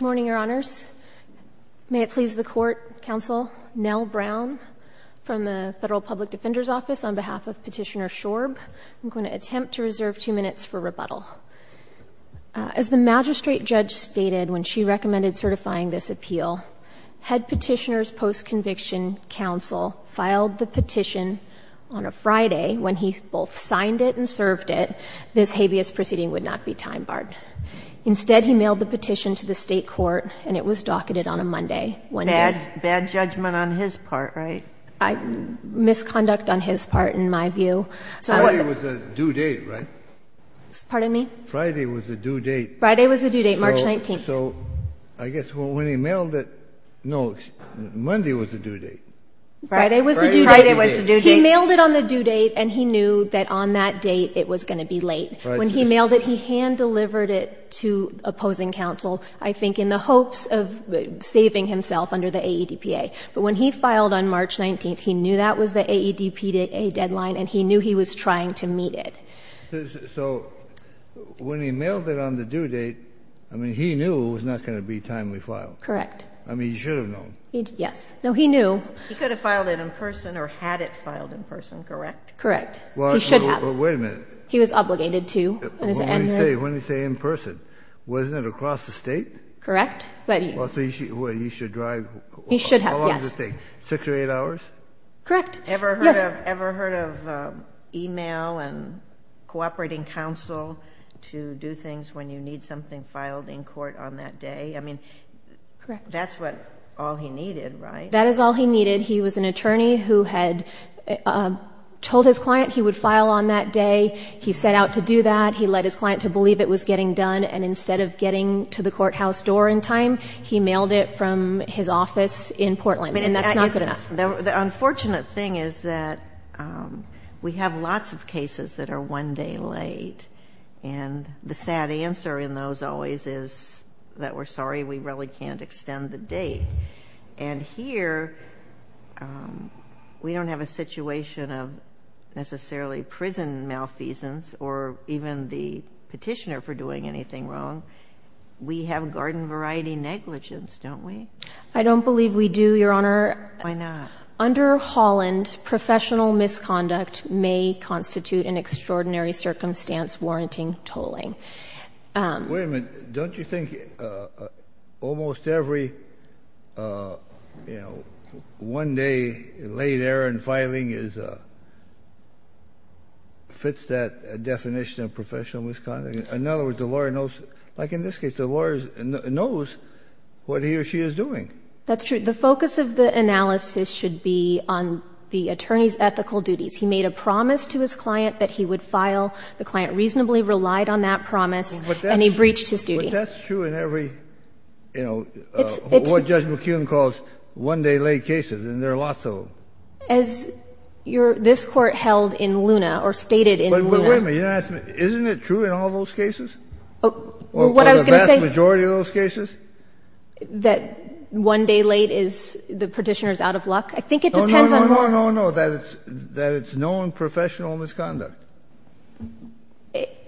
Morning, Your Honors. May it please the Court, Counsel, Nell Brown from the Federal Public Defender's Office on behalf of Petitioner Shorb. I'm going to attempt to reserve two minutes for rebuttal. As the magistrate judge stated when she recommended certifying this appeal, had Petitioner's post-conviction counsel filed the petition on a Friday when he both signed it and served it, this habeas proceeding would not be time barred. Instead, he mailed the petition to the state court, and it was docketed on a Monday, one day. Bad judgment on his part, right? Misconduct on his part, in my view. Friday was the due date, right? Pardon me? Friday was the due date. Friday was the due date, March 19th. So I guess when he mailed it, no, Monday was the due date. Friday was the due date. Friday was the due date. And he knew that on that date it was going to be late. When he mailed it, he hand-delivered it to opposing counsel, I think in the hopes of saving himself under the AEDPA. But when he filed on March 19th, he knew that was the AEDPA deadline, and he knew he was trying to meet it. So when he mailed it on the due date, I mean, he knew it was not going to be timely filed. Correct. I mean, he should have known. Yes. No, he knew. He could have filed it in person or had it filed in person, correct? Correct. He should have. Well, wait a minute. He was obligated to. What did he say? What did he say in person? Wasn't it across the state? Correct. But he... Well, so he should... Well, he should drive... He should have, yes. How long does it take? Six or eight hours? Correct. Yes. Ever heard of email and cooperating counsel to do things when you need something filed in court on that day? I mean, that's what all he needed, right? That is all he needed. He was an attorney who had told his client he would file on that day. He set out to do that. He led his client to believe it was getting done. And instead of getting to the courthouse door in time, he mailed it from his office in Portland. And that's not good enough. The unfortunate thing is that we have lots of cases that are one day late. And the sad answer in those always is that we're sorry we really can't extend the date. And here, we don't have a situation of necessarily prison malfeasance or even the petitioner for doing anything wrong. We have garden variety negligence, don't we? I don't believe we do, Your Honor. Why not? Under Holland, professional misconduct may constitute an extraordinary circumstance warranting tolling. Wait a minute. Don't you think almost every, you know, one day late error in filing fits that definition of professional misconduct? In other words, the lawyer knows, like in this case, the lawyer knows what he or she is doing. That's true. The focus of the analysis should be on the attorney's ethical duties. He made a promise to his client that he would file. The client reasonably relied on that promise. And he breached his duty. But that's true in every, you know, what Judge McKeown calls one day late cases. And there are lots of them. As this Court held in Luna, or stated in Luna. But wait a minute. Isn't it true in all those cases? What I was going to say. Or the vast majority of those cases? That one day late is the petitioner's out of luck? I think it depends on the court. No, no, no. That it's known professional misconduct.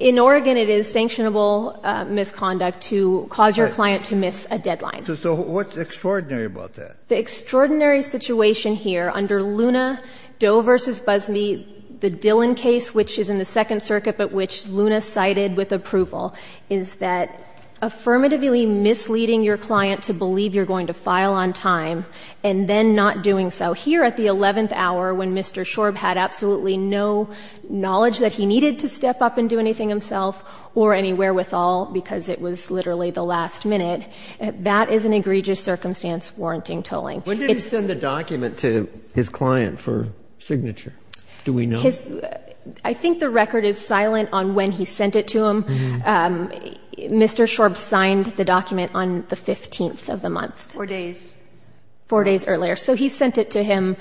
In Oregon, it is sanctionable misconduct to cause your client to miss a deadline. So what's extraordinary about that? The extraordinary situation here under Luna, Doe v. Busby, the Dillon case, which is in the Second Circuit, but which Luna cited with approval, is that affirmatively misleading your client to believe you're going to file on time, and then not doing so. Here at the 11th hour, when Mr. Shorb had absolutely no knowledge that he needed to step up and do anything himself, or any wherewithal, because it was literally the last minute, that is an egregious circumstance warranting tolling. When did he send the document to his client for signature? Do we know? I think the record is silent on when he sent it to him. Mr. Shorb signed the document on the 15th of the month. Four days. Four days earlier. So he sent it to him.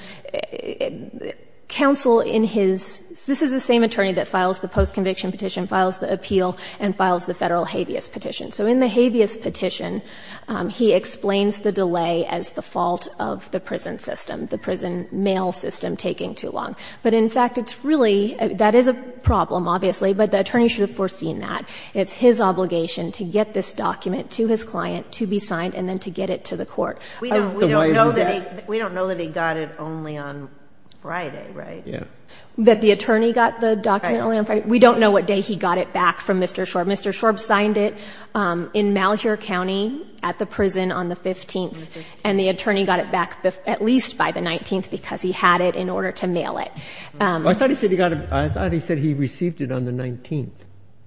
Counsel in his — this is the same attorney that files the post-conviction petition, files the appeal, and files the Federal habeas petition. So in the habeas petition, he explains the delay as the fault of the prison system, the prison mail system taking too long. But in fact, it's really — that is a problem, obviously, but the attorney should have foreseen that. It's his obligation to get this document to his client to be signed and then to get it to the court. So why isn't that? We don't know that he got it only on Friday, right? That the attorney got the document only on Friday? Right. We don't know what day he got it back from Mr. Shorb. Mr. Shorb signed it in Malheur County at the prison on the 15th. And the attorney got it back at least by the 19th because he had it in order to mail it. I thought he said he received it on the 19th.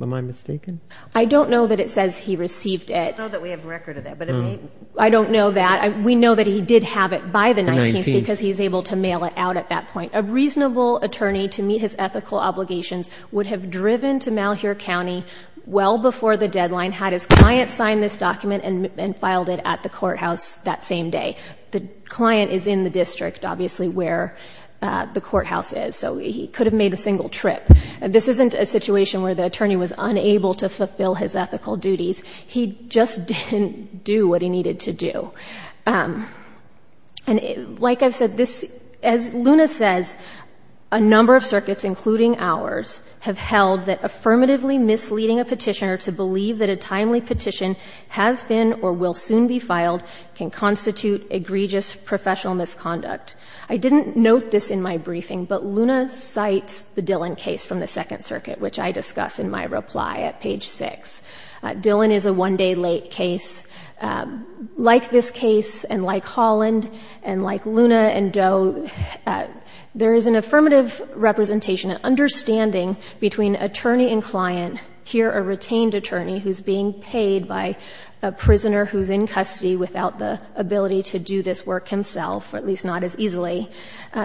Am I mistaken? I don't know that it says he received it. I don't know that we have a record of that. I don't know that. We know that he did have it by the 19th because he's able to mail it out at that point. A reasonable attorney to meet his ethical obligations would have driven to Malheur County well before the deadline, had his client signed this document and filed it at the courthouse that same day. The client is in the district, obviously, where the courthouse is. So he could have made a single trip. This isn't a situation where the attorney was unable to fulfill his ethical duties. He just didn't do what he needed to do. And like I've said, this — as Luna says, a number of circuits, including ours, have held that affirmatively misleading a petitioner to believe that a timely petition has been or will soon be filed can constitute egregious professional misconduct. I didn't note this in my briefing, but Luna cites the Dillon case from the Second Circuit, which I discuss in my reply at page 6. Dillon is a one-day late case. Like this case and like Holland and like Luna and Doe, there is an affirmative representation, an understanding between attorney and client. Here, a retained attorney who's being paid by a prisoner who's in custody without the ability to do this work himself, or at least not as easily.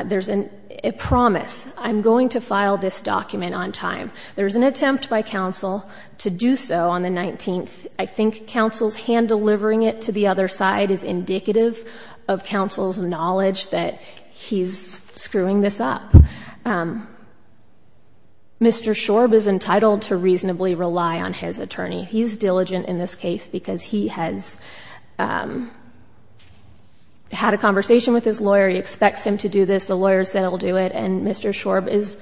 There's a promise. I'm going to file this document on time. There's an attempt by counsel to do so on the 19th. I think counsel's hand-delivering it to the other side is indicative of counsel's knowledge that he's screwing this up. Mr. Shorb is entitled to reasonably rely on his attorney. He's diligent in this case because he has had a conversation with his lawyer. He expects him to do this. The lawyer said he'll do it. And Mr. Shorb is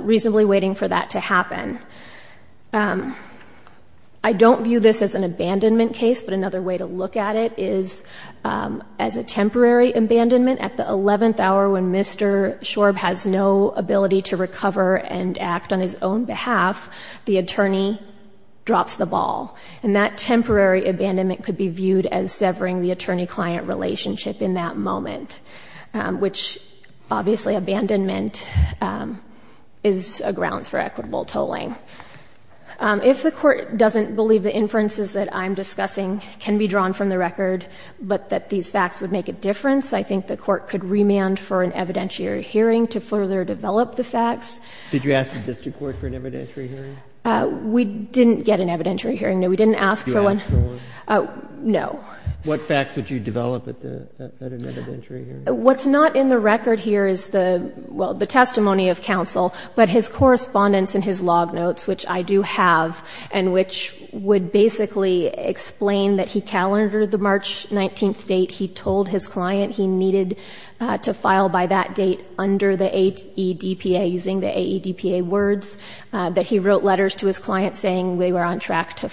reasonably waiting for that to happen. I don't view this as an abandonment case, but another way to look at it is as a temporary abandonment. At the 11th hour when Mr. Shorb has no ability to recover and act on his own behalf, the attorney drops the ball. And that temporary abandonment could be viewed as severing the attorney-client relationship in that moment, which, obviously, abandonment is a grounds for equitable tolling. If the court doesn't believe the inferences that I'm discussing can be drawn from the record, but that these facts would make a difference, I think the court could remand for an evidentiary hearing to further develop the facts. Did you ask the district court for an evidentiary hearing? We didn't get an evidentiary hearing, no. We didn't ask for one. Did you ask for one? No. What facts would you develop at an evidentiary hearing? What's not in the record here is the, well, the testimony of counsel, but his correspondence and his log notes, which I do have and which would basically explain that he calendared the March 19th date. He told his client he needed to file by that date under the AEDPA, using the AEDPA words, that he wrote letters to his client saying they were on track to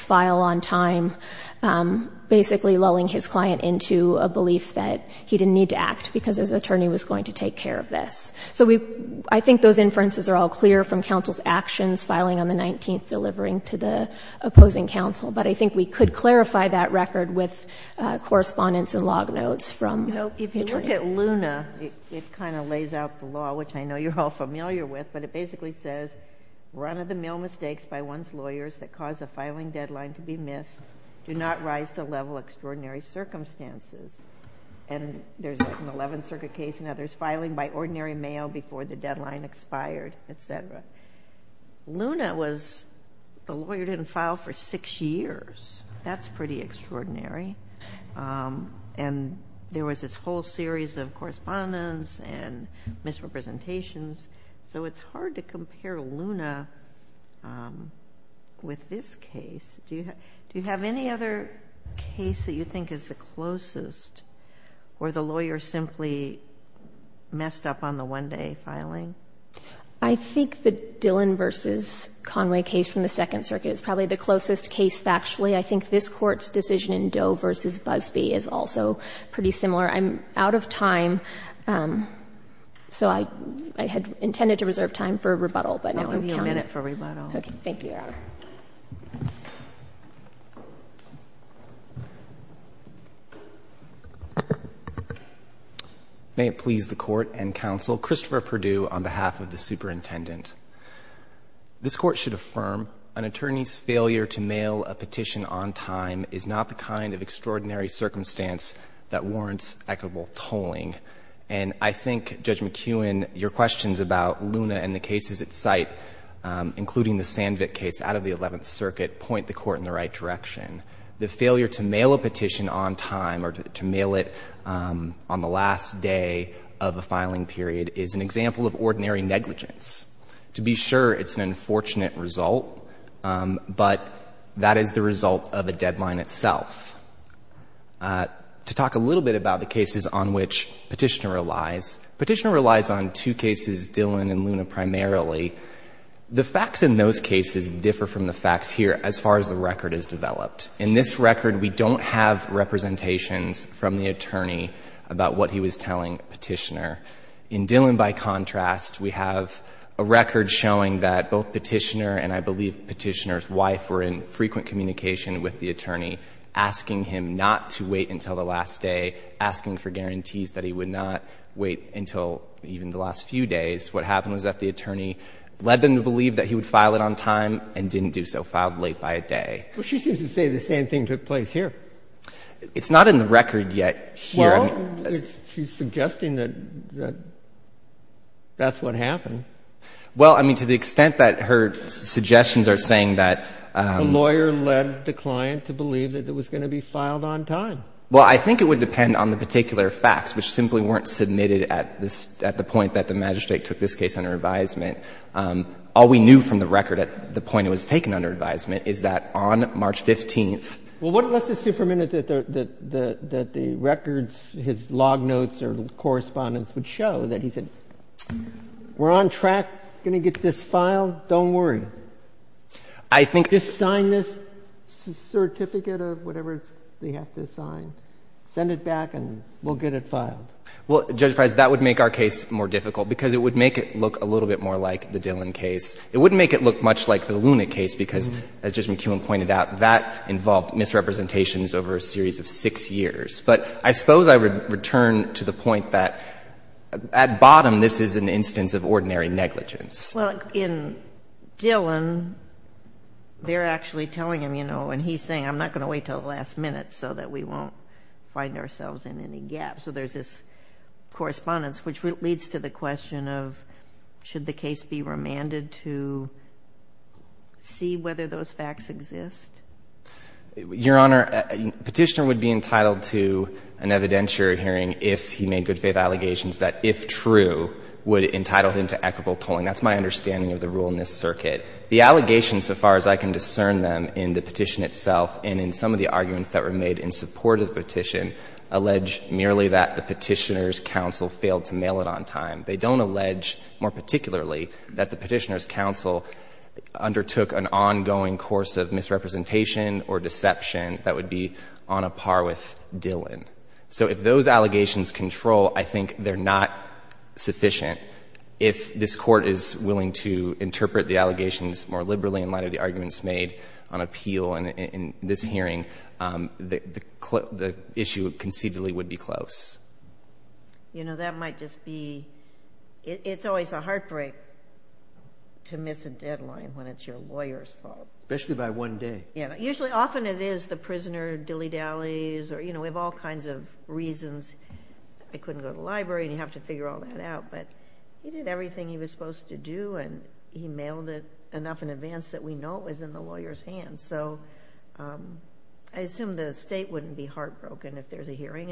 delulling his client into a belief that he didn't need to act because his attorney was going to take care of this. So I think those inferences are all clear from counsel's actions filing on the 19th, delivering to the opposing counsel. But I think we could clarify that record with correspondence and log notes from the attorney. No. If you look at Luna, it kind of lays out the law, which I know you're all familiar with, but it basically says, run-of-the-mill mistakes by one's lawyers that cause the filing deadline to be missed do not rise to level extraordinary circumstances. And there's an 11th Circuit case and others filing by ordinary mail before the deadline expired, et cetera. Luna was, the lawyer didn't file for six years. That's pretty extraordinary. And there was this whole series of correspondence and misrepresentations. So it's hard to compare Luna with this case. Do you have any other case that you think is the closest, or the lawyer simply messed up on the one-day filing? I think the Dillon v. Conway case from the Second Circuit is probably the closest case factually. I think this Court's decision in Doe v. Busbee is also pretty similar. I'm out of time. So I had intended to reserve time for rebuttal, but now I'm counting. I'll give you a minute for rebuttal. Okay. Thank you, Your Honor. May it please the Court and Counsel, Christopher Perdue on behalf of the Superintendent. This Court should affirm an attorney's failure to mail a petition on time is not the kind of extraordinary circumstance that warrants equitable tolling. And I think, Judge McKeown, your questions about Luna and the cases at site, including the Sandvik case out of the Eleventh Circuit, point the Court in the right direction. The failure to mail a petition on time or to mail it on the last day of a filing period is an example of ordinary negligence. To be sure, it's an unfortunate result, but that is the result of a deadline itself. To talk a little bit about the cases on which Petitioner relies, Petitioner relies on two cases, Dillon and Luna, primarily. The facts in those cases differ from the facts here as far as the record is developed. In this record, we don't have representations from the attorney about what he was telling Petitioner. In Dillon, by contrast, we have a record showing that both Petitioner and I believe And in Luna, Petitioner was making frequent communication with the attorney, asking him not to wait until the last day, asking for guarantees that he would not wait until even the last few days. What happened was that the attorney led them to believe that he would file it on time and didn't do so, filed late by a day. Well, she seems to say the same thing took place here. It's not in the record yet here. Well, she's suggesting that that's what happened. Well, I mean, to the extent that her suggestions are saying that the lawyer led the client to believe that it was going to be filed on time. Well, I think it would depend on the particular facts, which simply weren't submitted at the point that the magistrate took this case under advisement. All we knew from the record at the point it was taken under advisement is that on March 15th. Well, let's assume for a minute that the records, his log notes or correspondence would show that he said, we're on track, going to get this filed, don't worry. I think. Just sign this certificate of whatever they have to sign. Send it back and we'll get it filed. Well, Judge Price, that would make our case more difficult because it would make it look a little bit more like the Dillon case. It wouldn't make it look much like the Luna case because, as Judge McKeown pointed out, that involved misrepresentations over a series of six years. But I suppose I would return to the point that at bottom this is an instance of ordinary negligence. Well, in Dillon, they're actually telling him, you know, and he's saying I'm not going to wait until the last minute so that we won't find ourselves in any gaps. So there's this correspondence which leads to the question of should the case be remanded to see whether those facts exist? Your Honor, Petitioner would be entitled to an evidentiary hearing if he made good faith allegations that, if true, would entitle him to equitable tolling. That's my understanding of the rule in this circuit. The allegations, so far as I can discern them in the petition itself and in some of the arguments that were made in support of the petition, allege merely that the Petitioner's counsel failed to mail it on time. They don't allege, more particularly, that the Petitioner's counsel undertook an ongoing course of misrepresentation or deception that would be on a par with Dillon. So if those allegations control, I think they're not sufficient. If this Court is willing to interpret the allegations more liberally in light of the issue, concededly, would be close. You know, that might just be, it's always a heartbreak to miss a deadline when it's your lawyer's fault. Especially by one day. Yeah. Usually, often it is the prisoner dilly-dallies or, you know, we have all kinds of reasons. I couldn't go to the library and you have to figure all that out, but he did everything he was supposed to do and he mailed it enough in advance that we know it was in the lawyer's hands. So I assume the State wouldn't be heartbroken if there's a hearing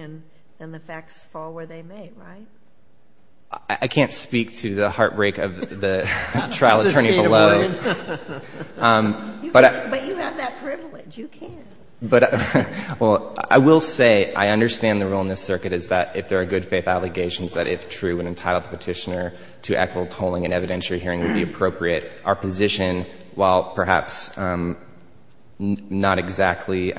and the facts fall where they may, right? I can't speak to the heartbreak of the trial attorney below. But you have that privilege. You can. But, well, I will say I understand the rule in this Circuit is that if there are good faith allegations, that if true and entitled the Petitioner to equitable tolling and evidentiary hearing would be appropriate. Our position, while perhaps not exactly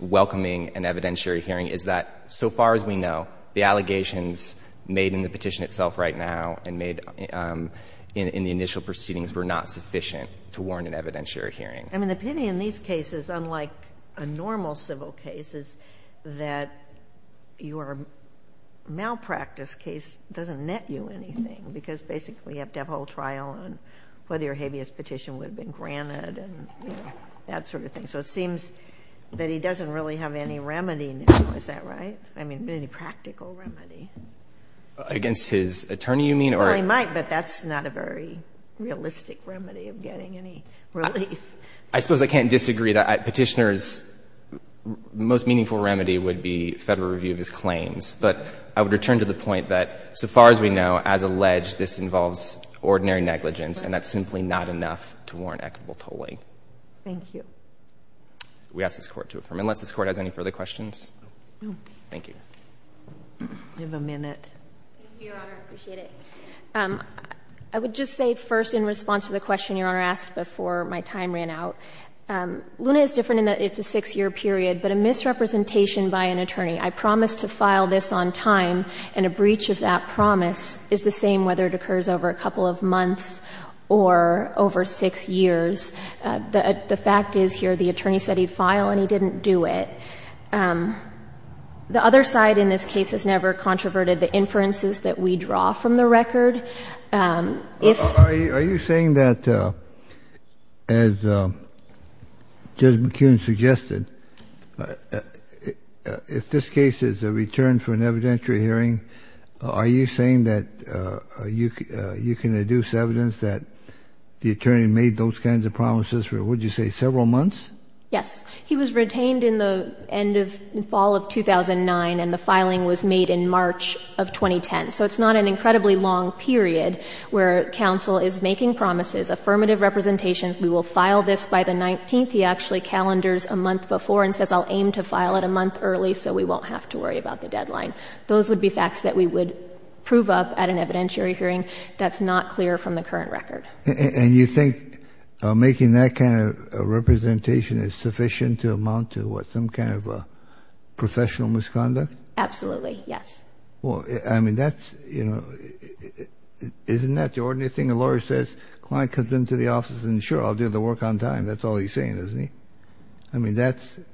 welcoming an evidentiary hearing, is that so far as we know, the allegations made in the petition itself right now and made in the initial proceedings were not sufficient to warrant an evidentiary hearing. I mean, the pity in these cases, unlike a normal civil case, is that your malpractice case doesn't net you anything, because basically you have to have a whole trial on whether your habeas petition would have been granted and that sort of thing. So it seems that he doesn't really have any remedy now. Is that right? I mean, any practical remedy. Against his attorney, you mean? Well, he might, but that's not a very realistic remedy of getting any relief. I suppose I can't disagree that Petitioner's most meaningful remedy would be Federal review of his claims. But I would return to the point that so far as we know, as alleged, this involves ordinary negligence, and that's simply not enough to warrant equitable tolling. Thank you. We ask this Court to affirm. Unless this Court has any further questions? Thank you. You have a minute. Thank you, Your Honor. I appreciate it. I would just say first, in response to the question Your Honor asked before my time ran out, Luna is different in that it's a six-year period, but a misrepresentation by an attorney. I promised to file this on time, and a breach of that promise is the same whether it occurs over a couple of months or over six years. The fact is here the attorney said he'd file, and he didn't do it. The other side in this case has never controverted the inferences that we draw from the record. Are you saying that, as Judge McKeon suggested, if this case is a return for an evidentiary hearing, are you saying that you can deduce evidence that the attorney made those kinds of promises for, what did you say, several months? Yes. He was retained in the end of the fall of 2009, and the filing was made in March of 2010. So it's not an incredibly long period where counsel is making promises, affirmative representations. We will file this by the 19th. He actually calendars a month before and says, I'll aim to file it a month early so we won't have to worry about the deadline. Those would be facts that we would prove up at an evidentiary hearing. That's not clear from the current record. And you think making that kind of representation is sufficient to amount to, what, some kind of professional misconduct? Absolutely, yes. Well, I mean, that's, you know, isn't that the ordinary thing? A lawyer says, a client comes into the office and, sure, I'll do the work on time. That's all he's saying, isn't he? I mean, that's enough.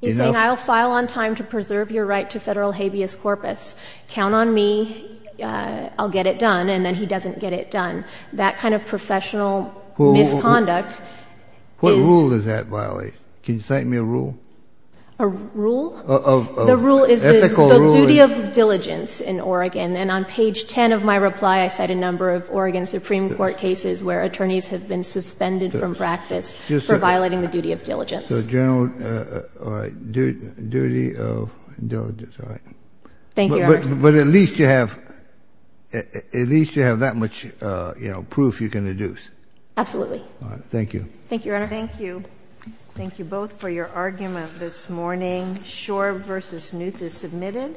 He's saying, I'll file on time to preserve your right to federal habeas corpus. Count on me. I'll get it done. And then he doesn't get it done. That kind of professional misconduct is. What rule does that violate? Can you cite me a rule? A rule? The rule is the duty of diligence in Oregon. And on page 10 of my reply, I cite a number of Oregon Supreme Court cases where attorneys have been suspended from practice for violating the duty of diligence. So general, all right, duty of diligence. All right. Thank you, Your Honor. But at least you have that much, you know, proof you can deduce. Absolutely. All right. Thank you. Thank you, Your Honor. Thank you. Thank you both for your argument this morning. Schor v. Knuth is submitted.